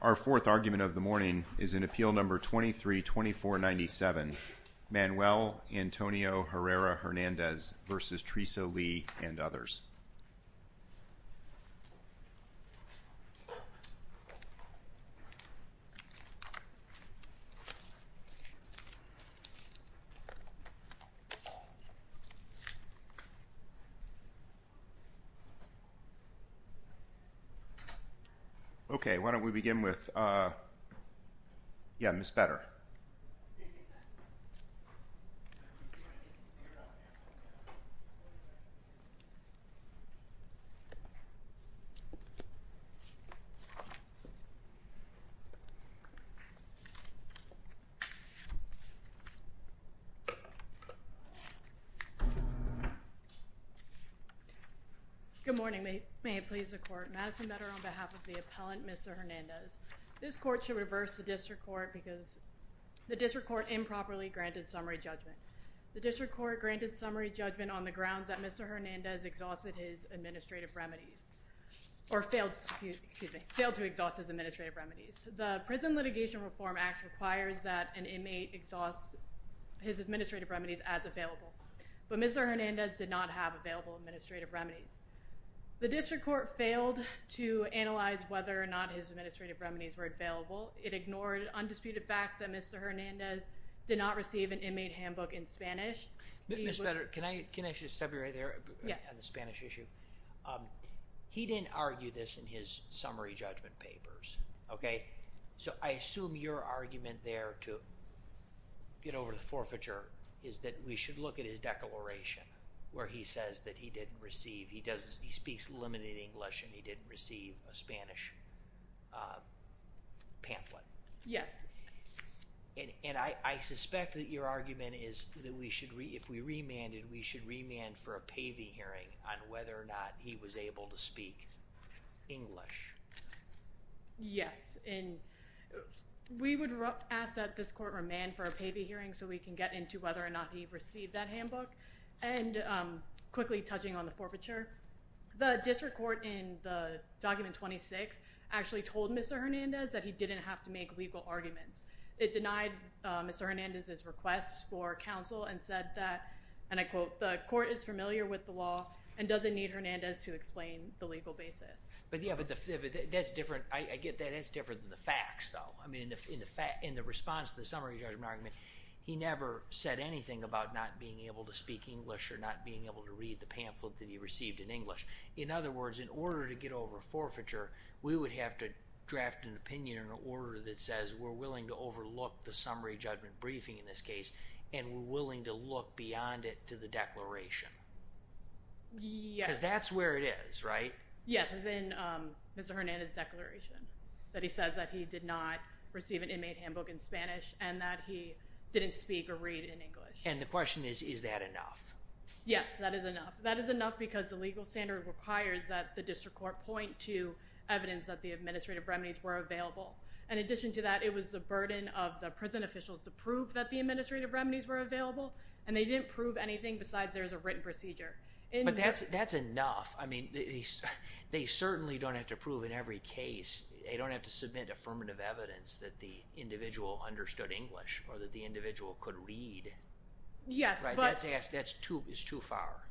Our fourth argument of the morning is in Appeal No. 23-2497, Manuel Antonio Herrera Hernandez v. Theresa Lee and others. Okay, why don't we begin with, yeah, Ms. Petter. Good morning. May it please the Court. Madison Petter on behalf of the appellant, Mr. Hernandez. This Court should reverse the District Court because the District Court improperly granted summary judgment. The District Court granted summary judgment on the grounds that Mr. Hernandez exhausted his administrative remedies or failed to exhaust his administrative remedies. The Prison Litigation Reform Act requires that an inmate exhaust his administrative remedies as available, but Mr. Hernandez did not have available administrative remedies. The District Court failed to analyze whether or not his administrative remedies were available. It ignored undisputed facts that Mr. Hernandez did not receive an inmate handbook in Spanish. Ms. Petter, can I just sub you right there on the Spanish issue? He didn't argue this in his summary judgment papers, okay? So I assume your argument there to get over the forfeiture is that we should look at his declaration where he says that he didn't receive, he speaks limited English and he didn't receive a Spanish pamphlet. Yes. And I suspect that your argument is that we should, if we remanded, we should remand for a PAVI hearing on whether or not he was able to speak English. Yes, and we would ask that this Court remand for a PAVI hearing so we can get into whether or not he received that handbook. And quickly touching on the forfeiture, the District Court in the Document 26 actually told Mr. Hernandez that he didn't have to make legal arguments. It denied Mr. Hernandez's request for counsel and said that, and I quote, the Court is familiar with the law and doesn't need Hernandez to explain the legal basis. But yeah, but that's different, I get that, that's different than the facts though. I mean, in the response to the summary judgment argument, he never said anything about not being able to speak English or not being able to read the pamphlet that he received in English. In other words, in order to get over forfeiture, we would have to draft an opinion or an order that says we're willing to overlook the summary judgment briefing in this case and we're willing to look beyond it to the declaration. Yes. Because that's where it is, right? Yes, it's in Mr. Hernandez's declaration that he says that he did not receive an inmate handbook in Spanish and that he didn't speak or read in English. And the question is, is that enough? Yes, that is enough. That is enough because the legal standard requires that the District Court point to evidence that the administrative remedies were available. In addition to that, it was the burden of the prison officials to prove that the administrative remedies were available and they didn't prove anything besides there was a written procedure. But that's enough. I mean, they certainly don't have to prove in every case. They don't have to submit affirmative evidence that the individual understood English or that the individual could read. Yes. That's too far.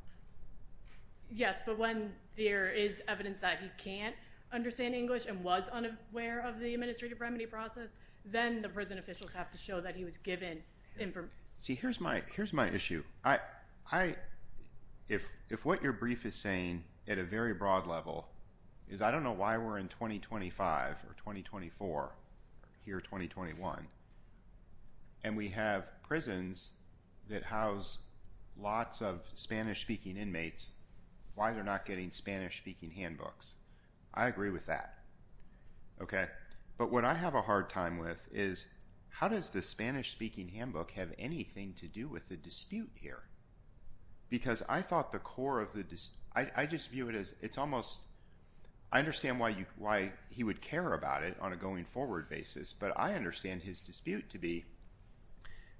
Yes, but when there is evidence that he can't understand English and was unaware of the administrative remedy process, then the prison officials have to show that he was given information. See, here's my issue. If what your brief is saying at a very broad level is I don't know why we're in 2025 or 2024 or here 2021 and we have prisons that house lots of Spanish-speaking inmates, why they're not getting Spanish-speaking handbooks. I agree with that. OK, but what I have a hard time with is how does the Spanish-speaking handbook have anything to do with the dispute here? Because I thought the core of the I just view it as it's almost I understand why you why he would care about it on a going forward basis, but I understand his dispute to be.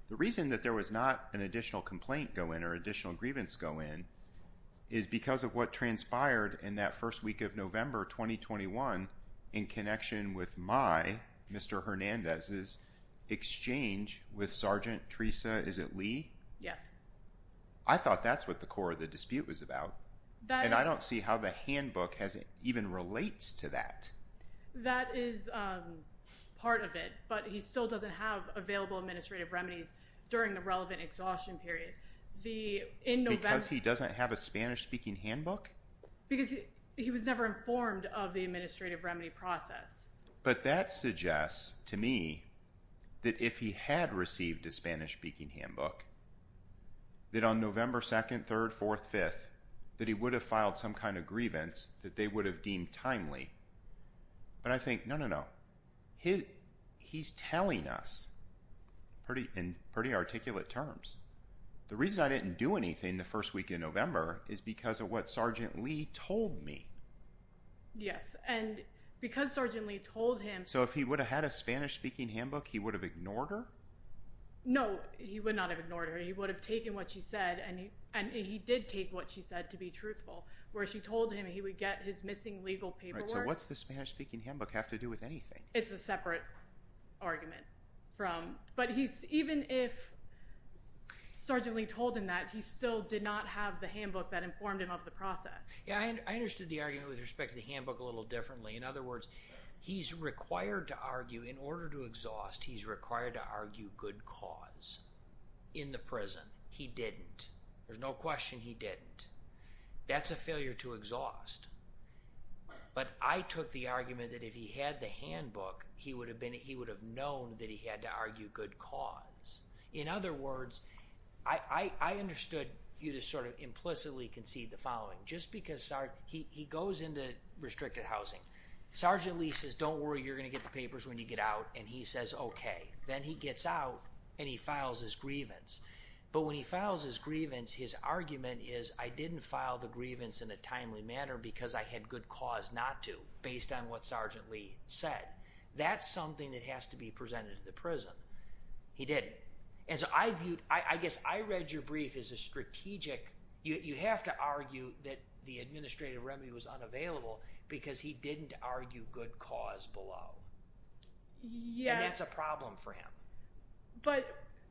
The reason that there was not an additional complaint go in or additional grievance go in is because of what transpired in that first week of November 2021 in connection with my Mr. Hernandez's exchange with Sergeant Teresa. Is it Lee? Yes. I thought that's what the core of the dispute was about, and I don't see how the handbook has even relates to that. That is part of it, but he still doesn't have available administrative remedies during the relevant exhaustion period. The in November because he doesn't have a Spanish-speaking handbook because he was never informed of the administrative remedy process. But that suggests to me that if he had received a Spanish-speaking handbook. That on November 2nd, 3rd, 4th, 5th, that he would have filed some kind of grievance that they would have deemed timely. But I think no, no, no, he he's telling us pretty in pretty articulate terms. The reason I didn't do anything the first week in November is because of what Sergeant Lee told me. Yes, and because Sergeant Lee told him. So if he would have had a Spanish-speaking handbook, he would have ignored her. No, he would not have ignored her. He would have taken what she said and he and he did take what she said to be truthful where she told him he would get his missing legal paperwork. So what's the Spanish-speaking handbook have to do with anything? It's a separate argument from but he's even if Sergeant Lee told him that he still did not have the handbook that informed him of the process. Yeah, I understood the argument with respect to the handbook a little differently. In other words, he's required to argue in order to exhaust. He's required to argue good cause in the prison. He didn't. There's no question he didn't. That's a failure to exhaust. But I took the argument that if he had the handbook, he would have been he would have known that he had to argue good cause. In other words, I understood you to sort of implicitly concede the following. Just because he goes into restricted housing. Sergeant Lee says don't worry, you're going to get the papers when you get out and he says okay. Then he gets out and he files his grievance. But when he files his grievance, his argument is I didn't file the grievance in a timely manner because I had good cause not to based on what Sergeant Lee said. That's something that has to be presented to the prison. He didn't. And so I viewed, I guess I read your brief as a strategic. You have to argue that the administrative remedy was unavailable because he didn't argue good cause below. And that's a problem for him. But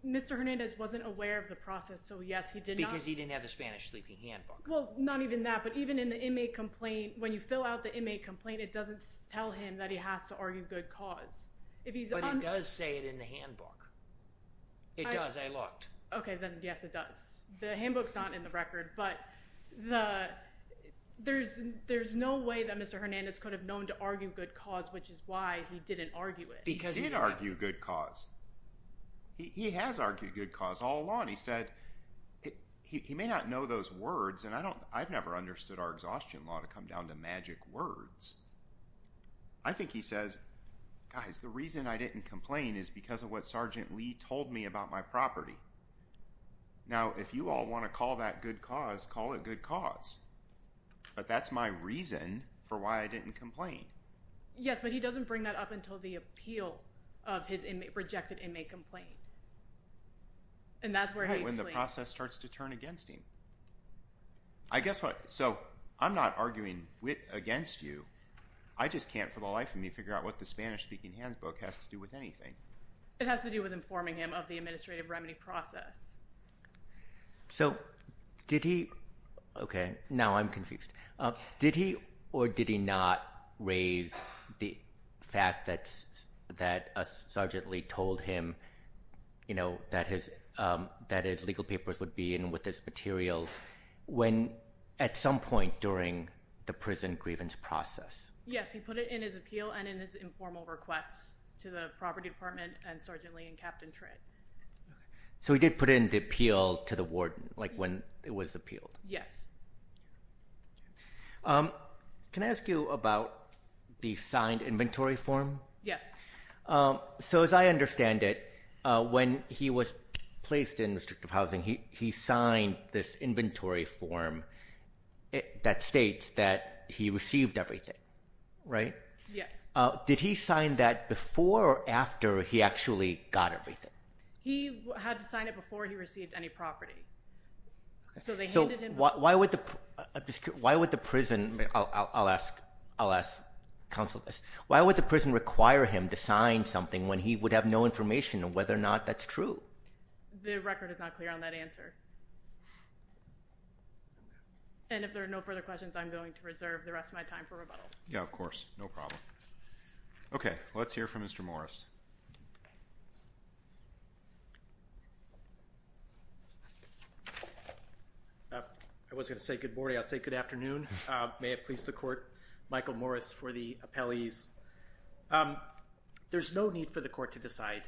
Mr. Hernandez wasn't aware of the process. So yes, he did not. Because he didn't have the Spanish sleeping handbook. Well, not even that. But even in the inmate complaint, when you fill out the inmate complaint, it doesn't tell him that he has to argue good cause. But it does say it in the handbook. It does. I looked. Okay. Then yes, it does. The handbook's not in the record. But there's no way that Mr. Hernandez could have known to argue good cause, which is why he didn't argue it. Because he did argue good cause. He has argued good cause all along. He said he may not know those words and I've never understood our exhaustion law to come down to magic words. I think he says, guys, the reason I didn't complain is because of what Sergeant Lee told me about my property. Now, if you all want to call that good cause, call it good cause. But that's my reason for why I didn't complain. Yes, but he doesn't bring that up until the appeal of his rejected inmate complaint. And that's where he explains. When the process starts to turn against him. I guess what? So I'm not arguing against you. I just can't for the life of me figure out what the Spanish-speaking handbook has to do with anything. It has to do with informing him of the administrative remedy process. So did he? Okay. Now I'm confused. Did he or did he not raise the fact that Sergeant Lee told him that his legal papers would be in with his materials at some point during the prison grievance process? Yes, he put it in his appeal and in his informal requests to the property department and Sergeant Lee and Captain Tritt. So he did put it in the appeal to the warden when it was appealed? Yes. Can I ask you about the signed inventory form? Yes. So as I understand it, when he was placed in restrictive housing, he signed this inventory form that states that he received everything, right? Yes. Did he sign that before or after he actually got everything? He had to sign it before he received any property. So why would the prison require him to sign something when he would have no information on whether or not that's true? The record is not clear on that answer. And if there are no further questions, I'm going to reserve the rest of my time for rebuttal. Yeah, of course. No problem. Okay. Let's hear from Mr. Morris. I was going to say good morning. I'll say good afternoon. May it please the court, Michael Morris for the appellees. There's no need for the court to decide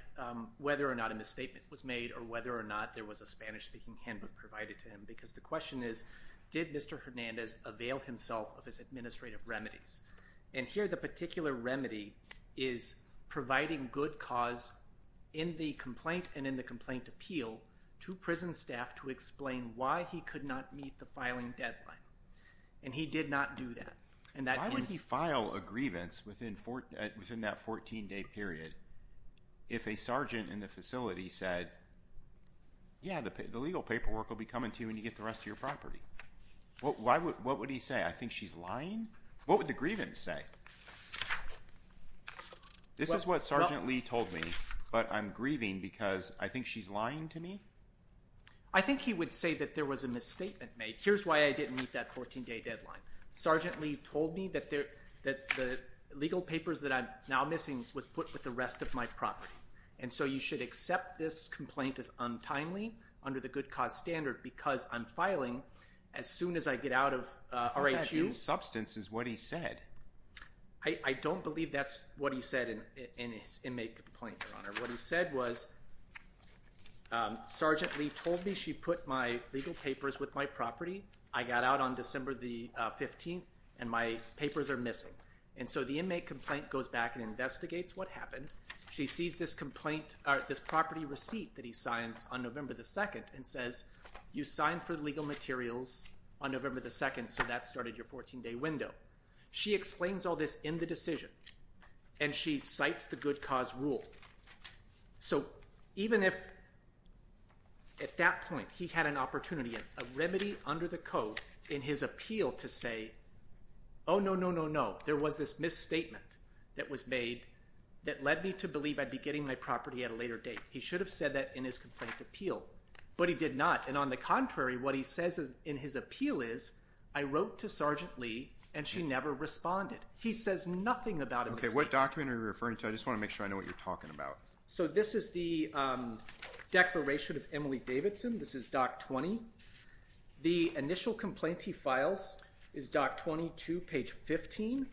whether or not a misstatement was made or whether or not there was a Spanish-speaking handbook provided to him because the question is, did Mr. Hernandez avail himself of his administrative remedies? And here the particular remedy is providing good cause in the complaint and in the complaint appeal to prison staff to explain why he could not meet the filing deadline. And he did not do that. Why would he file a grievance within that 14-day period if a sergeant in the facility said, yeah, the legal paperwork will be coming to you when you get the rest of your property? What would he say? I think she's lying? What would the grievance say? This is what Sergeant Lee told me, but I'm grieving because I think she's lying to me? I think he would say that there was a misstatement made. Here's why I didn't meet that 14-day deadline. Sergeant Lee told me that the legal papers that I'm now missing was put with the rest of my property. And so you should accept this complaint as untimely under the good cause standard because I'm filing as soon as I get out of R.H.U. That substance is what he said. I don't believe that's what he said in his inmate complaint, Your Honor. What he said was, Sergeant Lee told me she put my legal papers with my property. I got out on December the 15th and my papers are missing. And so the inmate complaint goes back and investigates what happened. She sees this complaint or this property receipt that he signs on November the 2nd and says, you signed for legal materials on November the 2nd, so that started your 14-day window. She explains all this in the decision and she cites the good cause rule. So even if at that point he had an opportunity, a remedy under the code in his appeal to say, oh, no, no, no, no, there was this misstatement that was made that led me to believe I'd be getting my property at a later date. He should have said that in his complaint appeal, but he did not. And on the contrary, what he says in his appeal is, I wrote to Sergeant Lee and she never responded. He says nothing about it. Okay, what document are you referring to? I just want to make sure I know what you're talking about. So this is the declaration of Emily Davidson. This is Doc 20. The initial complaint he files is Doc 22, page 15.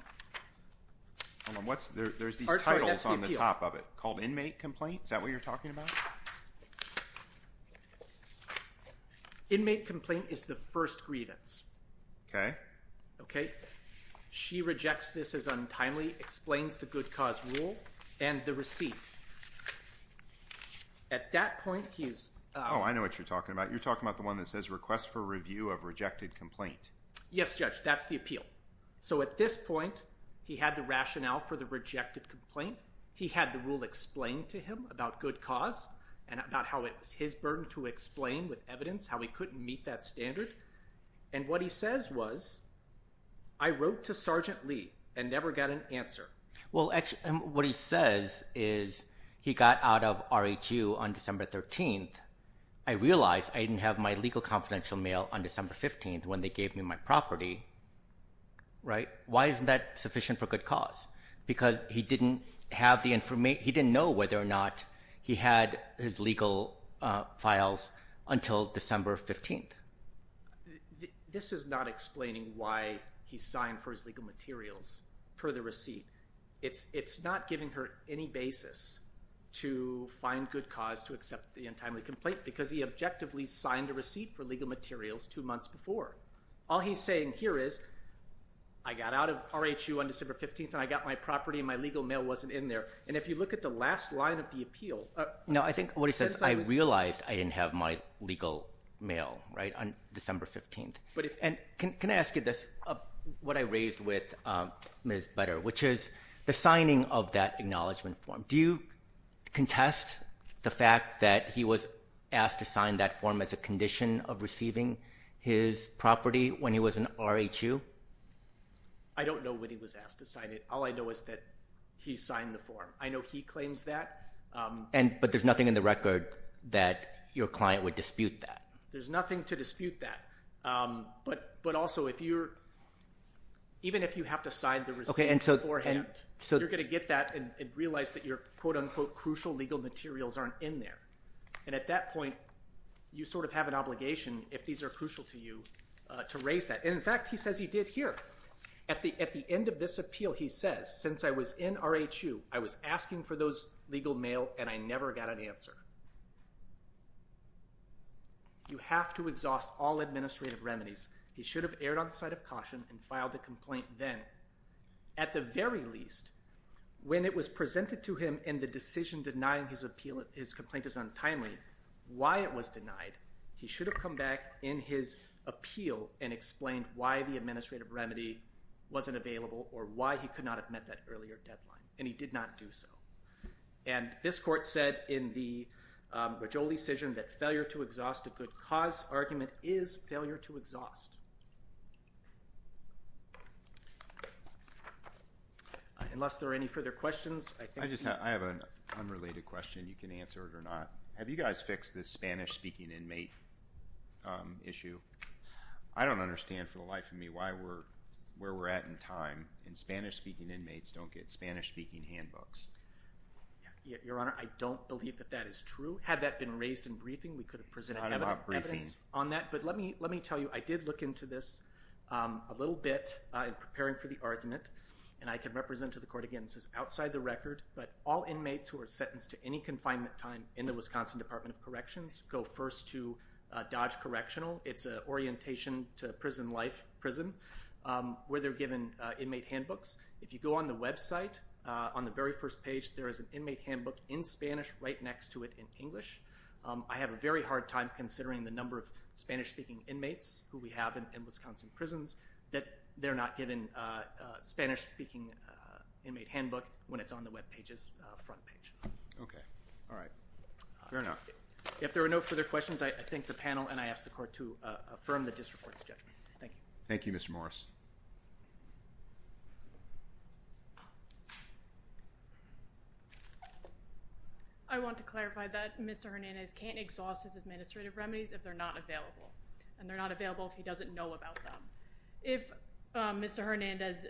Hold on. There's these titles on the top of it called Inmate Complaint. Is that what you're talking about? Inmate Complaint is the first grievance. Okay. Okay. She rejects this as untimely, explains the good cause rule, and the receipt. At that point, he's… Oh, I know what you're talking about. You're talking about the one that says Request for Review of Rejected Complaint. Yes, Judge, that's the appeal. So at this point, he had the rationale for the rejected complaint. He had the rule explained to him about good cause and about how it was his burden to explain with evidence, how he couldn't meet that standard. And what he says was, I wrote to Sergeant Lee and never got an answer. Well, what he says is he got out of RHU on December 13th. I realized I didn't have my legal confidential mail on December 15th when they gave me my property. Why isn't that sufficient for good cause? Because he didn't have the information. He didn't know whether or not he had his legal files until December 15th. This is not explaining why he signed for his legal materials per the receipt. It's not giving her any basis to find good cause to accept the untimely complaint because he objectively signed the receipt for legal materials two months before. All he's saying here is, I got out of RHU on December 15th, and I got my property, and my legal mail wasn't in there. And if you look at the last line of the appeal. No, I think what he says, I realized I didn't have my legal mail on December 15th. And can I ask you this, what I raised with Ms. Butter, which is the signing of that acknowledgement form. Do you contest the fact that he was asked to sign that form as a condition of receiving his property when he was in RHU? I don't know when he was asked to sign it. All I know is that he signed the form. I know he claims that. But there's nothing in the record that your client would dispute that. There's nothing to dispute that. But also, even if you have to sign the receipt beforehand, you're going to get that and realize that your quote-unquote crucial legal materials aren't in there. And at that point, you sort of have an obligation, if these are crucial to you, to raise that. And in fact, he says he did here. At the end of this appeal, he says, since I was in RHU, I was asking for those legal mail, and I never got an answer. You have to exhaust all administrative remedies. He should have erred on the side of caution and filed a complaint then. At the very least, when it was presented to him in the decision denying his complaint as untimely, why it was denied, he should have come back in his appeal and explained why the administrative remedy wasn't available or why he could not have met that earlier deadline. And he did not do so. And this court said in the Raggiolli decision that failure to exhaust a good cause argument is failure to exhaust. Unless there are any further questions. I have an unrelated question. You can answer it or not. Have you guys fixed this Spanish-speaking inmate issue? I don't understand, for the life of me, where we're at in time. And Spanish-speaking inmates don't get Spanish-speaking handbooks. Your Honor, I don't believe that that is true. Had that been raised in briefing, we could have presented evidence on that. But let me tell you, I did look into this a little bit in preparing for the argument. And I can represent to the court again, this is outside the record, but all inmates who are sentenced to any confinement time in the Wisconsin Department of Corrections go first to Dodge Correctional. It's an orientation to prison life, prison, where they're given inmate handbooks. If you go on the website, on the very first page, there is an inmate handbook in Spanish right next to it in English. I have a very hard time considering the number of Spanish-speaking inmates who we have in Wisconsin prisons that they're not given a Spanish-speaking inmate handbook when it's on the web page's front page. Okay. All right. Fair enough. If there are no further questions, I thank the panel, and I ask the court to affirm the district court's judgment. Thank you. Thank you, Mr. Morris. I want to clarify that Mr. Hernandez can't exhaust his administrative remedies if they're not available. And they're not available if he doesn't know about them. If Mr. Hernandez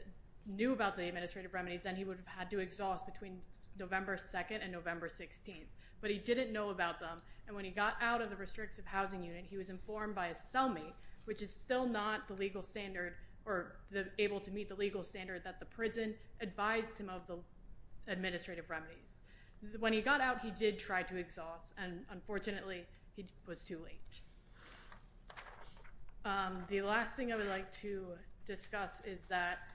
knew about the administrative remedies, then he would have had to exhaust between November 2nd and November 16th. But he didn't know about them, and when he got out of the restrictive housing unit, he was informed by a cellmate, which is still not the legal standard or able to meet the legal standard that the prison advised him of the administrative remedies. When he got out, he did try to exhaust, and unfortunately, he was too late. The last thing I would like to discuss is that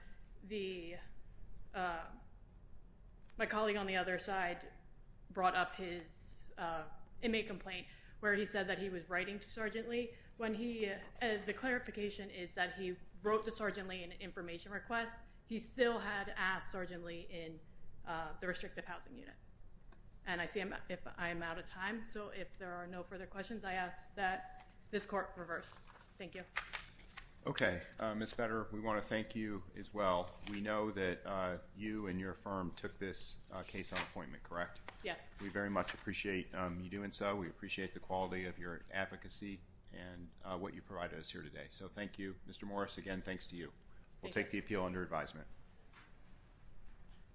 my colleague on the other side brought up his inmate complaint where he said that he was writing to Sergeant Lee. The clarification is that he wrote to Sergeant Lee in an information request. He still had asked Sergeant Lee in the restrictive housing unit. And I see I'm out of time, so if there are no further questions, I ask that this court reverse. Thank you. Okay. Ms. Fetter, we want to thank you as well. We know that you and your firm took this case on appointment, correct? Yes. We very much appreciate you doing so. We appreciate the quality of your advocacy and what you provided us here today. So thank you. Mr. Morris, again, thanks to you. We'll take the appeal under advisement.